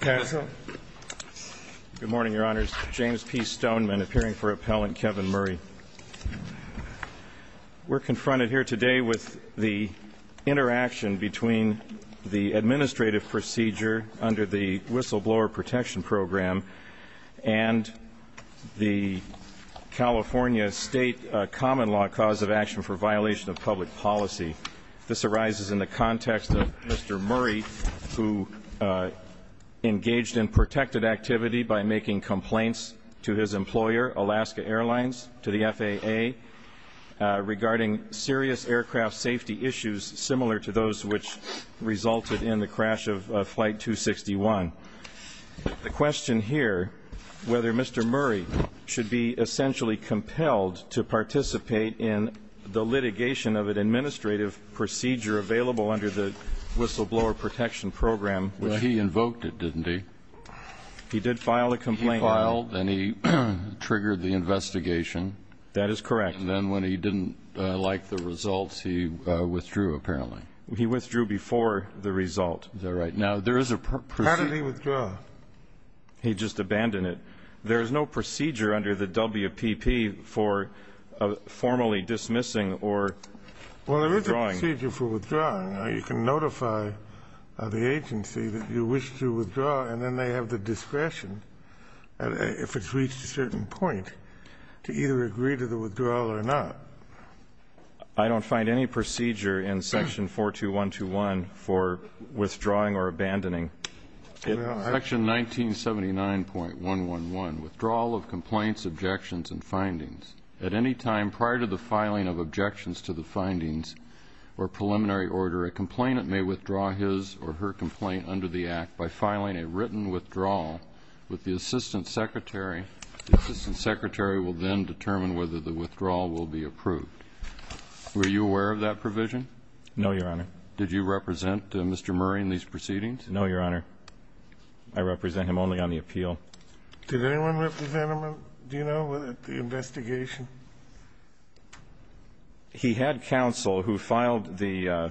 Good morning, Your Honors. James P. Stoneman, appearing for Appellant Kevin Murray. We're confronted here today with the interaction between the administrative procedure under the whistleblower protection program and the California state common law cause of action for violation of public policy. This arises in the context of Mr. Murray, who engaged in protected activity by making complaints to his employer, Alaska Airlines, to the FAA, regarding serious aircraft safety issues similar to those which resulted in the crash of Flight 261. The question here, whether Mr. Murray should be essentially compelled to participate in the litigation of an administrative procedure available under the whistleblower protection program. Well, he invoked it, didn't he? He did file a complaint. He filed and he triggered the investigation. That is correct. And then when he didn't like the results, he withdrew, apparently. He withdrew before the result. Is that right? How did he withdraw? He just abandoned it. There is no procedure under the WPP for formally dismissing or withdrawing. Well, there is a procedure for withdrawing. You can notify the agency that you wish to withdraw, and then they have the discretion, if it's reached a certain point, to either agree to the withdrawal or not. I don't find any procedure in Section 42121 for withdrawing or abandoning. Section 1979.111, withdrawal of complaints, objections, and findings. At any time prior to the filing of objections to the findings or preliminary order, a complainant may withdraw his or her complaint under the Act by filing a written withdrawal with the assistant secretary. The assistant secretary will then determine whether the withdrawal will be approved. Were you aware of that provision? No, Your Honor. Did you represent Mr. Murray in these proceedings? No, Your Honor. I represent him only on the appeal. Did anyone represent him, do you know, with the investigation? He had counsel who filed the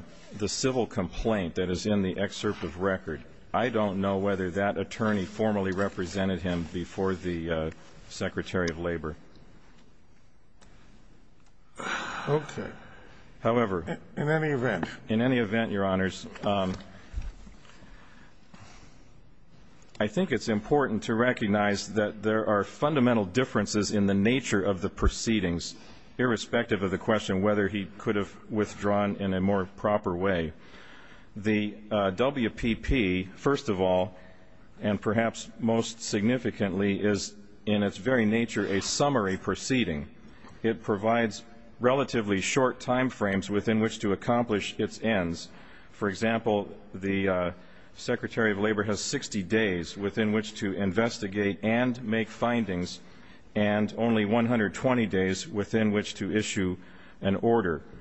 civil complaint that is in the excerpt of record. I don't know whether that attorney formally represented him before the Secretary of Labor. Okay. However. In any event. In any event, Your Honors, I think it's important to recognize that there are fundamental differences in the nature of the proceedings, irrespective of the question whether he could have withdrawn in a more proper way. The WPP, first of all, and perhaps most significantly, is in its very nature a summary proceeding. It provides relatively short time frames within which to accomplish its ends. For example, the Secretary of Labor has 60 days within which to investigate and make findings, and only 120 days within which to issue an order. However,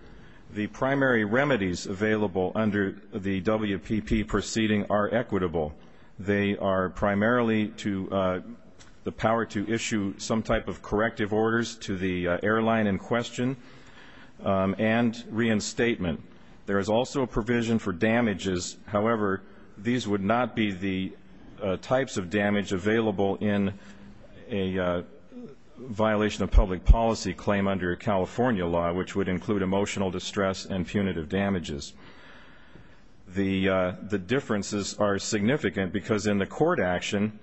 the primary remedies available under the WPP proceeding are equitable. They are primarily to the power to issue some type of corrective orders to the airline in question and reinstatement. There is also a provision for damages. However, these would not be the types of damage available in a violation of public policy claim under California law, which would include emotional distress and punitive damages. The differences are significant because in the court action,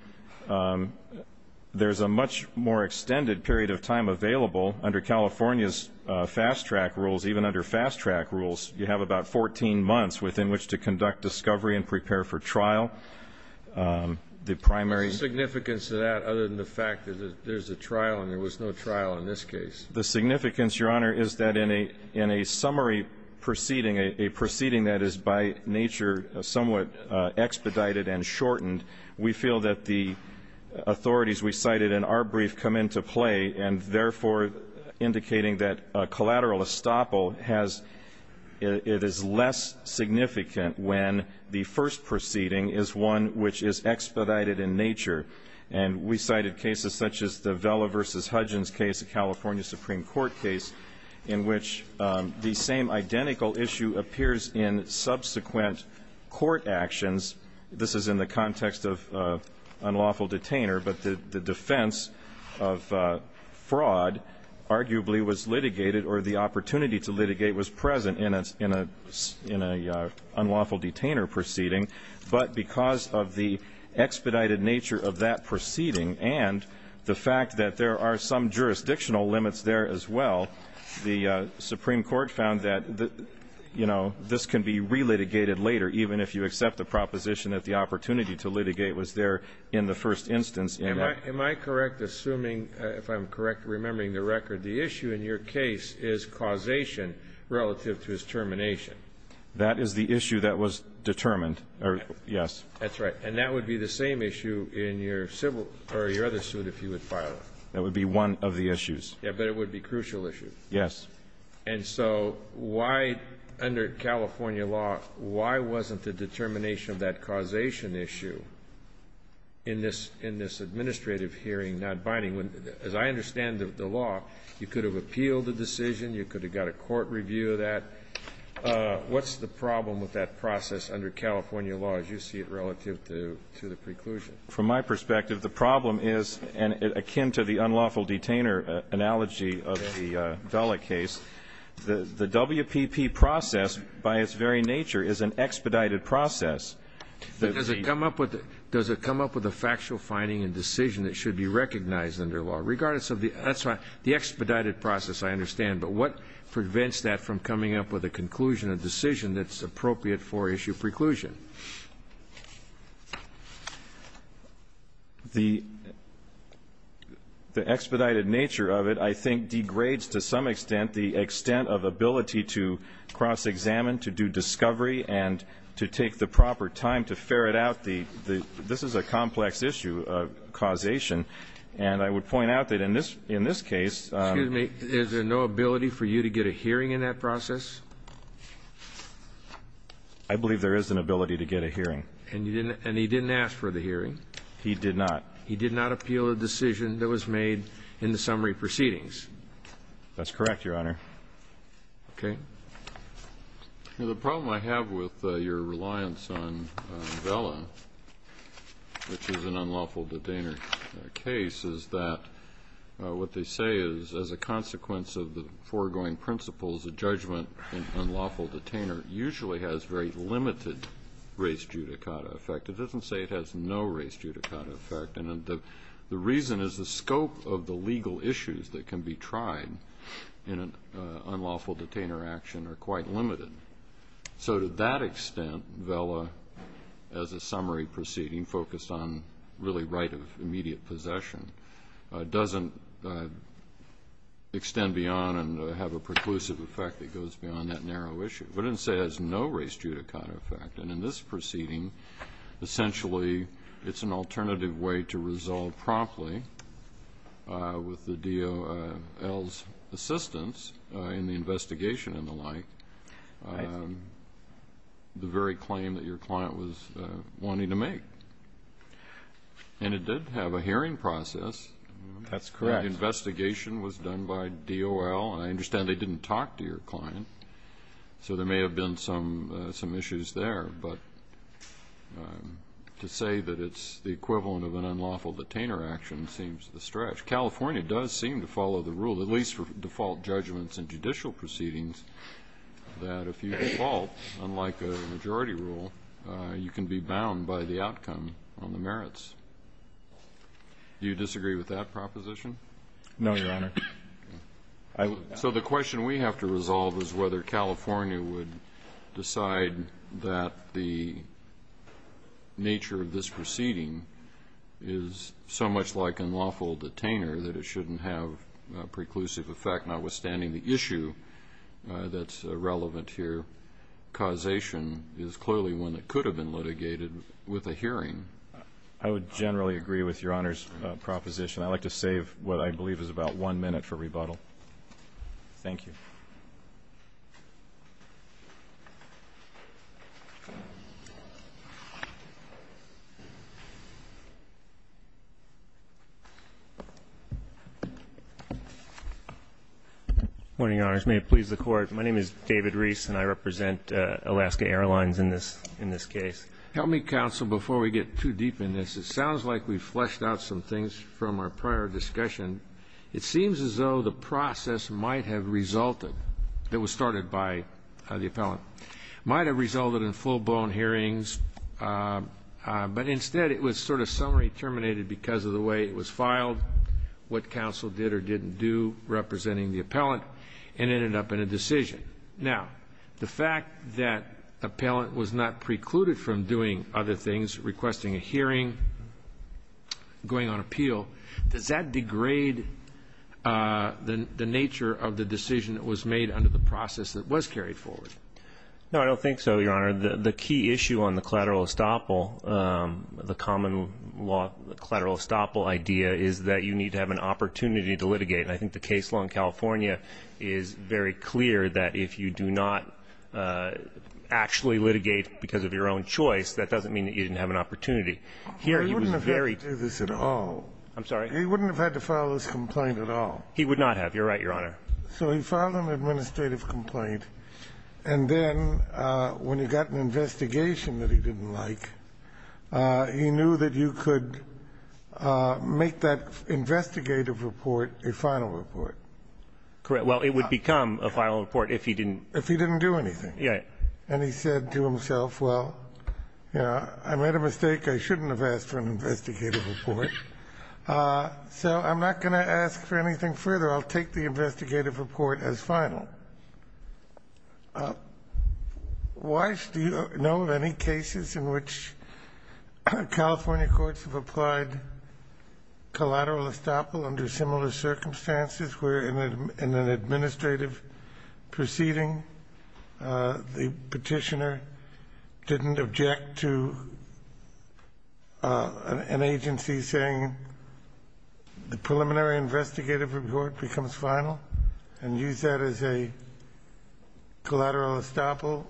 there's a much more extended period of time available. Under California's fast-track rules, even under fast-track rules, you have about 14 months within which to conduct discovery and prepare for trial. What's the significance of that other than the fact that there's a trial and there was no trial in this case? The significance, Your Honor, is that in a summary proceeding, a proceeding that is by nature somewhat expedited and shortened, we feel that the authorities we cited in our brief come into play and, therefore, indicating that a collateral estoppel, it is less significant when the first proceeding is one which is expedited in nature. And we cited cases such as the Vela v. Hudgens case, a California Supreme Court case, in which the same identical issue appears in subsequent court actions. This is in the context of unlawful detainer, but the defense of fraud arguably was litigated or the opportunity to litigate was present in an unlawful detainer proceeding. But because of the expedited nature of that proceeding and the fact that there are some jurisdictional limits there as well, the Supreme Court found that, you know, this can be relitigated later, even if you accept the proposition that the opportunity to litigate was there in the first instance. Am I correct, assuming, if I'm correct, remembering the record, the issue in your case is causation relative to his termination? That is the issue that was determined. Yes. That's right. And that would be the same issue in your civil or your other suit if you would file it. That would be one of the issues. Yes, but it would be a crucial issue. Yes. And so why, under California law, why wasn't the determination of that causation issue in this administrative hearing not binding? As I understand the law, you could have appealed the decision, you could have got a court review of that. What's the problem with that process under California law as you see it relative to the preclusion? From my perspective, the problem is, and akin to the unlawful detainer analogy of the Vela case, the WPP process, by its very nature, is an expedited process. Does it come up with a factual finding and decision that should be recognized under law? Regardless of the expedited process, I understand. But what prevents that from coming up with a conclusion, a decision that's appropriate for issue preclusion? The expedited nature of it, I think, degrades to some extent the extent of ability to cross-examine, to do discovery, and to take the proper time to ferret out the this is a complex issue of causation. And I would point out that in this case Excuse me. Is there no ability for you to get a hearing in that process? I believe there is an ability to get a hearing. And he didn't ask for the hearing? He did not. He did not appeal a decision that was made in the summary proceedings? That's correct, Your Honor. Okay. The problem I have with your reliance on Vela, which is an unlawful detainer case, is that what they say is as a consequence of the foregoing principles, a judgment in unlawful detainer usually has very limited race judicata effect. It doesn't say it has no race judicata effect. And the reason is the scope of the legal issues that can be tried in an unlawful detainer action are quite limited. So to that extent, Vela, as a summary proceeding focused on really right of immediate possession, doesn't extend beyond and have a preclusive effect that goes beyond that narrow issue. But it doesn't say it has no race judicata effect. And in this proceeding, essentially, it's an alternative way to resolve promptly with the DOL's assistance in the investigation and the like the very claim that your client was wanting to make. And it did have a hearing process. That's correct. The investigation was done by DOL. I understand they didn't talk to your client, so there may have been some issues there. But to say that it's the equivalent of an unlawful detainer action seems a stretch. California does seem to follow the rule, at least for default judgments and judicial proceedings, that if you default, unlike a majority rule, you can be bound by the outcome on the merits. Do you disagree with that proposition? No, Your Honor. So the question we have to resolve is whether California would decide that the nature of this proceeding is so much like an unlawful detainer that it shouldn't have a preclusive effect, notwithstanding the issue that's relevant here. Causation is clearly one that could have been litigated with a hearing. I would generally agree with Your Honor's proposition. I'd like to save what I believe is about one minute for rebuttal. Thank you. Good morning, Your Honors. May it please the Court, my name is David Reese, and I represent Alaska Airlines in this case. Help me, counsel, before we get too deep in this. It sounds like we've fleshed out some things from our prior discussion. It seems as though the process might have resulted, that was started by the appellant, might have resulted in full-blown hearings, but instead it was sort of summary terminated because of the way it was filed, what counsel did or didn't do representing the appellant, and ended up in a decision. Now, the fact that appellant was not precluded from doing other things, requesting a hearing, going on appeal, does that degrade the nature of the decision that was made under the process that was carried forward? No, I don't think so, Your Honor. The key issue on the collateral estoppel, the common law collateral estoppel idea, is that you need to have an opportunity to litigate. And I think the case law in California is very clear that if you do not actually litigate because of your own choice, that doesn't mean that you didn't have an opportunity. Here he was very ---- He wouldn't have had to do this at all. I'm sorry? He wouldn't have had to file this complaint at all. He would not have. You're right, Your Honor. So he filed an administrative complaint, and then when he got an investigation that he didn't like, he knew that you could make that investigative report a final report. Correct. Well, it would become a final report if he didn't ---- If he didn't do anything. Right. And he said to himself, well, you know, I made a mistake. I shouldn't have asked for an investigative report. So I'm not going to ask for anything further. I'll take the investigative report as final. Why do you know of any cases in which California courts have applied collateral estoppel under similar circumstances where in an administrative proceeding the Petitioner didn't object to an agency saying the preliminary investigative report becomes final and use that as a collateral estoppel?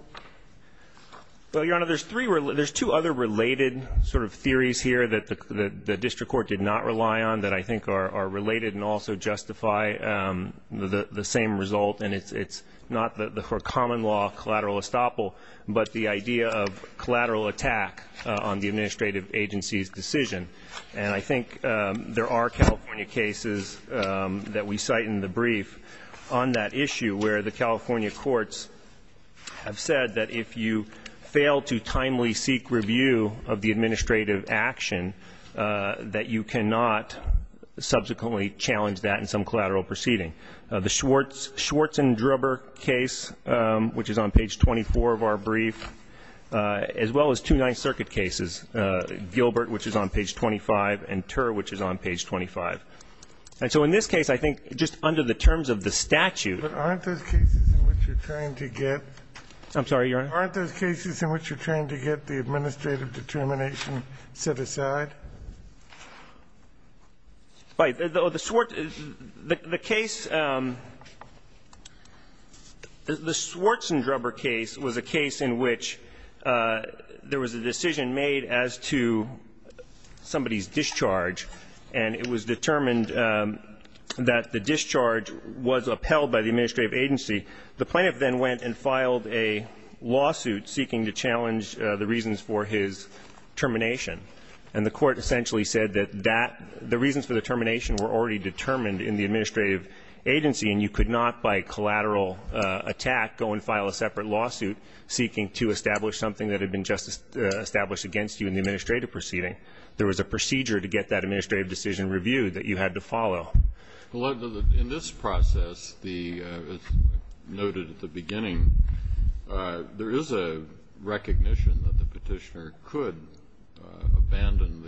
Well, Your Honor, there's two other related sort of theories here that the district court did not rely on that I think are related and also justify the same result, and it's not the common law collateral estoppel, but the idea of collateral attack on the administrative agency's decision. And I think there are California cases that we cite in the brief on that issue where the California courts have said that if you fail to timely seek review of the administrative action, that you cannot subsequently challenge that in some collateral proceeding. The Schwartz and Drubber case, which is on page 24 of our brief, as well as two Ninth Circuit cases, Gilbert, which is on page 25, and Turr, which is on page 25. And so in this case, I think just under the terms of the statute. But aren't those cases in which you're trying to get? I'm sorry, Your Honor? Aren't those cases in which you're trying to get the administrative determination set aside? Right. The case the Schwartz and Drubber case was a case in which there was a decision made as to somebody's discharge, and it was determined that the discharge was upheld by the administrative agency. The plaintiff then went and filed a lawsuit seeking to challenge the reasons for his termination. And the court essentially said that the reasons for the termination were already determined in the administrative agency, and you could not, by collateral attack, go and file a separate lawsuit seeking to establish something that had been just established against you in the administrative proceeding. There was a procedure to get that administrative decision reviewed that you had to follow. Well, in this process, as noted at the beginning, there is a recognition that the petitioner could abandon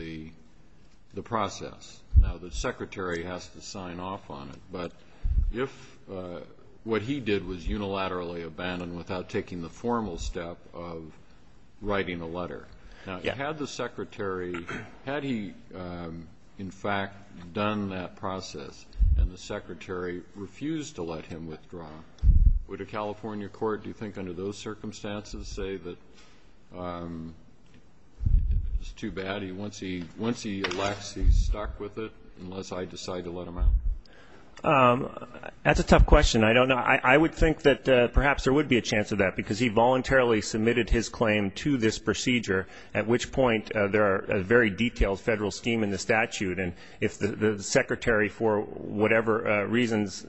the process. Now, the secretary has to sign off on it. But if what he did was unilaterally abandon without taking the formal step of writing a letter, now, had the secretary, had he, in fact, done that process and the secretary refused to let him withdraw, would a California court, do you think, under those It's too bad. Once he elects, he's stuck with it unless I decide to let him out. That's a tough question. I don't know. I would think that perhaps there would be a chance of that because he voluntarily submitted his claim to this procedure, at which point there are very detailed federal scheme in the statute. And if the secretary, for whatever reasons,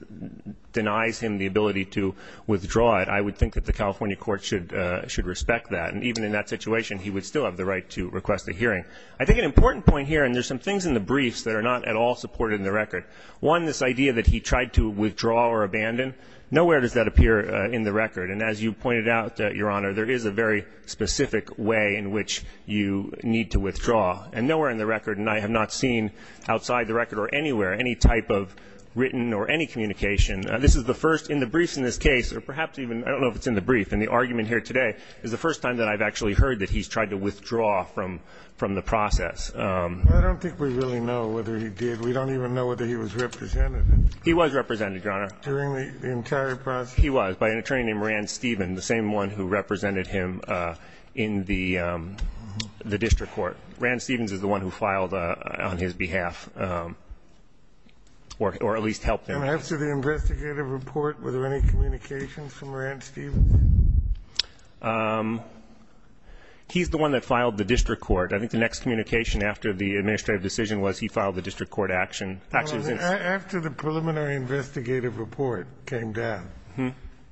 denies him the ability to withdraw it, I would think that the California court should respect that. And even in that situation, he would still have the right to request a hearing. I think an important point here, and there's some things in the briefs that are not at all supported in the record. One, this idea that he tried to withdraw or abandon. Nowhere does that appear in the record. And as you pointed out, Your Honor, there is a very specific way in which you need to withdraw. And nowhere in the record, and I have not seen outside the record or anywhere any type of written or any communication. This is the first in the briefs in this case, or perhaps even I don't know if it's in the brief, in the argument here today, is the first time that I've actually heard that he's tried to withdraw from the process. I don't think we really know whether he did. We don't even know whether he was represented. He was represented, Your Honor. During the entire process? He was, by an attorney named Rand Stephens, the same one who represented him in the district court. Rand Stephens is the one who filed on his behalf or at least helped him. And as to the investigative report, were there any communications from Rand Stephens? He's the one that filed the district court. I think the next communication after the administrative decision was he filed the district court action. After the preliminary investigative report came down,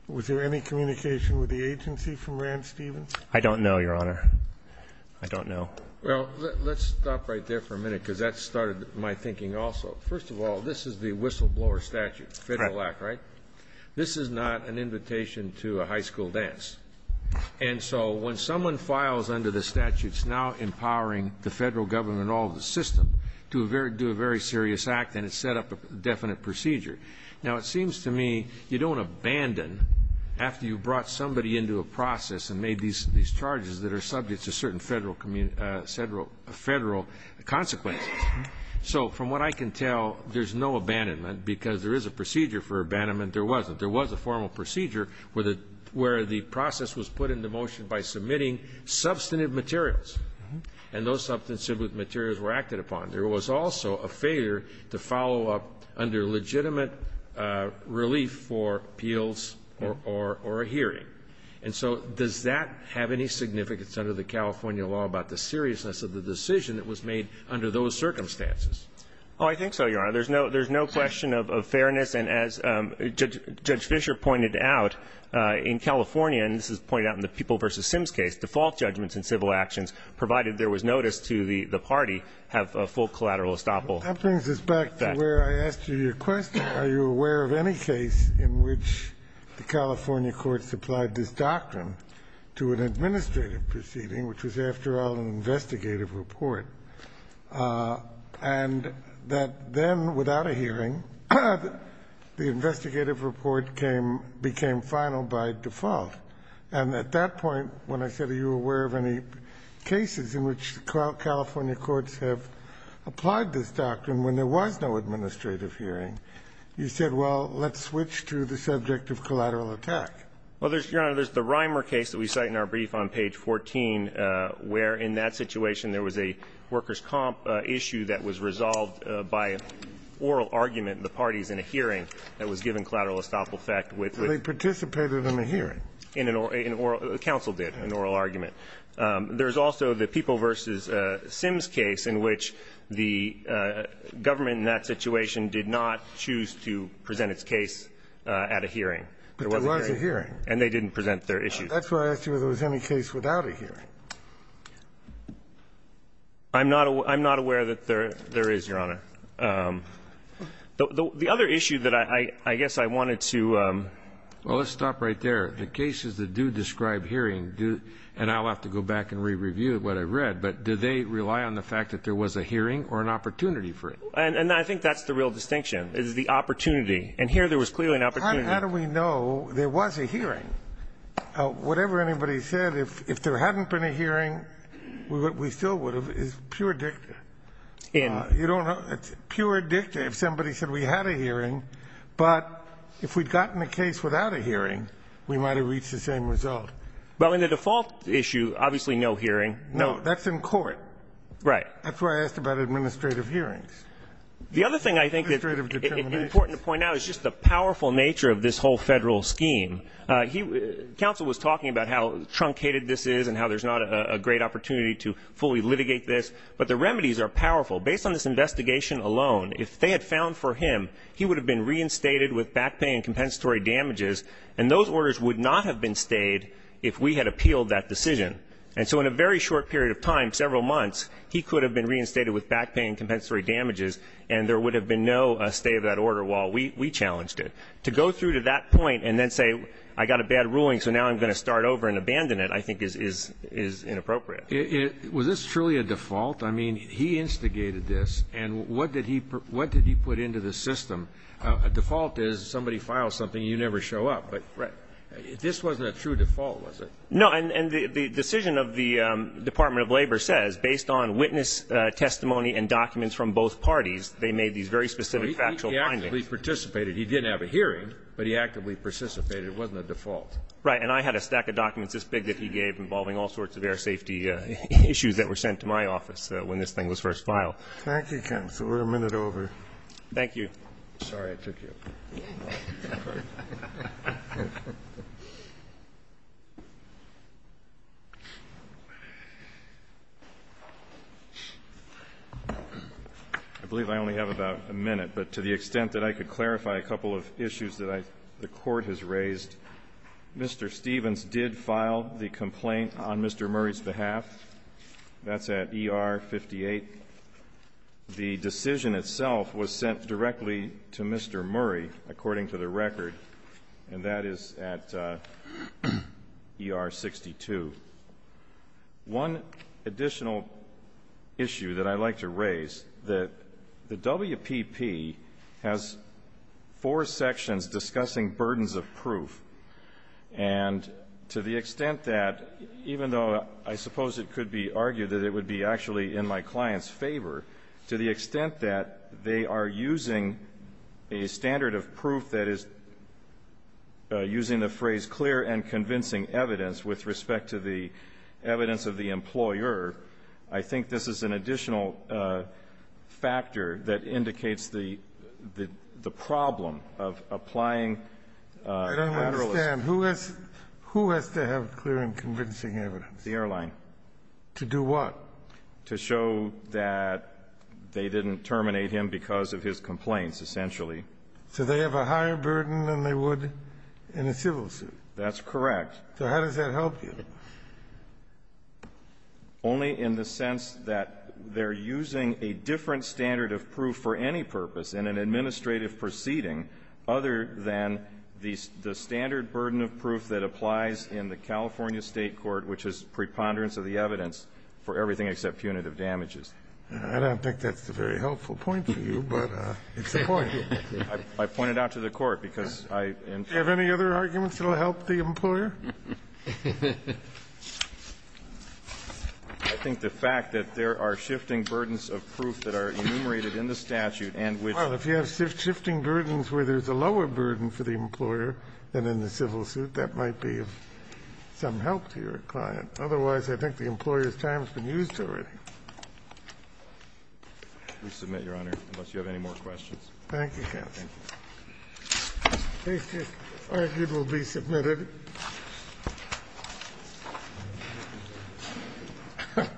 was there any communication with the agency from Rand Stephens? I don't know, Your Honor. I don't know. Well, let's stop right there for a minute, because that started my thinking also. First of all, this is the whistleblower statute, Federal Act, right? Right. This is not an invitation to a high school dance. And so when someone files under the statute, it's now empowering the federal government and all of the system to do a very serious act and set up a definite procedure. Now, it seems to me you don't abandon after you've brought somebody into a process and made these charges that are subject to certain federal consequences. So from what I can tell, there's no abandonment, because there is a procedure for abandonment. There wasn't. There was a formal procedure where the process was put into motion by submitting substantive materials. And those substantive materials were acted upon. There was also a failure to follow up under legitimate relief for appeals or a hearing. And so does that have any significance under the California law about the seriousness of the decision that was made under those circumstances? Oh, I think so, Your Honor. There's no question of fairness. And as Judge Fischer pointed out, in California, and this is pointed out in the People v. Sims case, default judgments in civil actions, provided there was notice to the party, have a full collateral estoppel effect. That brings us back to where I asked you your question. Are you aware of any case in which the California courts applied this doctrine to an administrative proceeding, which was, after all, an investigative report, and that then, without a hearing, the investigative report came, became final by default? And at that point, when I said, are you aware of any cases in which California courts have applied this doctrine when there was no administrative hearing, you said, well, let's switch to the subject of collateral attack. Well, Your Honor, there's the Reimer case that we cite in our brief on page 14, where in that situation there was a workers' comp issue that was resolved by oral argument in the parties in a hearing that was given collateral estoppel effect with the ---- They participated in a hearing. In an oral ---- counsel did, an oral argument. There's also the People v. Sims case in which the government in that situation did not choose to present its case at a hearing. But there was a hearing. And they didn't present their issue. That's why I asked you whether there was any case without a hearing. I'm not aware that there is, Your Honor. The other issue that I guess I wanted to ---- Well, let's stop right there. The cases that do describe hearing do, and I'll have to go back and re-review what I read, but do they rely on the fact that there was a hearing or an opportunity for it? And I think that's the real distinction, is the opportunity. And here there was clearly an opportunity. How do we know there was a hearing? Whatever anybody said, if there hadn't been a hearing, we still would have. It's pure dicta. In? You don't know. It's pure dicta if somebody said we had a hearing. But if we'd gotten a case without a hearing, we might have reached the same result. Well, in the default issue, obviously no hearing. No. That's in court. Right. That's why I asked about administrative hearings. The other thing I think that's important to point out is just the powerful nature of this whole Federal scheme. Counsel was talking about how truncated this is and how there's not a great opportunity to fully litigate this, but the remedies are powerful. Based on this investigation alone, if they had found for him, he would have been reinstated with back pay and compensatory damages, and those orders would not have been stayed if we had appealed that decision. And so in a very short period of time, several months, he could have been reinstated with back pay and compensatory damages, and there would have been no stay of that order while we challenged it. To go through to that point and then say, I got a bad ruling, so now I'm going to start over and abandon it, I think is inappropriate. Was this truly a default? I mean, he instigated this, and what did he put into the system? A default is somebody files something, you never show up. Right. But this wasn't a true default, was it? No. And the decision of the Department of Labor says, based on witness testimony and documents from both parties, they made these very specific factual findings. He actually participated. He didn't have a hearing, but he actively participated. It wasn't a default. Right. And I had a stack of documents this big that he gave involving all sorts of air safety issues that were sent to my office when this thing was first filed. Thank you, counsel. We're a minute over. Thank you. Sorry I took you. I believe I only have about a minute. But to the extent that I could clarify a couple of issues that the Court has raised, Mr. Stevens did file the complaint on Mr. Murray's behalf. That's at ER 58. The decision itself was sent directly to Mr. Murray, according to the record, and that is at ER 62. One additional issue that I'd like to raise, that the WPP has four sections discussing burdens of proof. And to the extent that, even though I suppose it could be argued that it would be actually in my client's favor, to the extent that they are using a standard of proof that is using the phrase clear and convincing evidence with respect to the evidence of the employer, I think this is an additional factor that indicates the problem of applying lateralism. I don't understand. Who has to have clear and convincing evidence? The airline. To do what? To show that they didn't terminate him because of his complaints, essentially. So they have a higher burden than they would in a civil suit? That's correct. So how does that help you? Only in the sense that they're using a different standard of proof for any purpose in an administrative proceeding other than the standard burden of proof that applies in the California State court, which is preponderance of the evidence for everything except punitive damages. I don't think that's a very helpful point for you, but it's a point. I point it out to the Court because I am. Do you have any other arguments that will help the employer? I think the fact that there are shifting burdens of proof that are enumerated in the statute and which. Well, if you have shifting burdens where there's a lower burden for the employer than in the civil suit, that might be of some help to your client. Otherwise, I think the employer's time has been used to it. Resubmit, Your Honor, unless you have any more questions. Thank you, Counsel. Case is argued will be submitted. Thank you, Mr. Chairman. Thank you.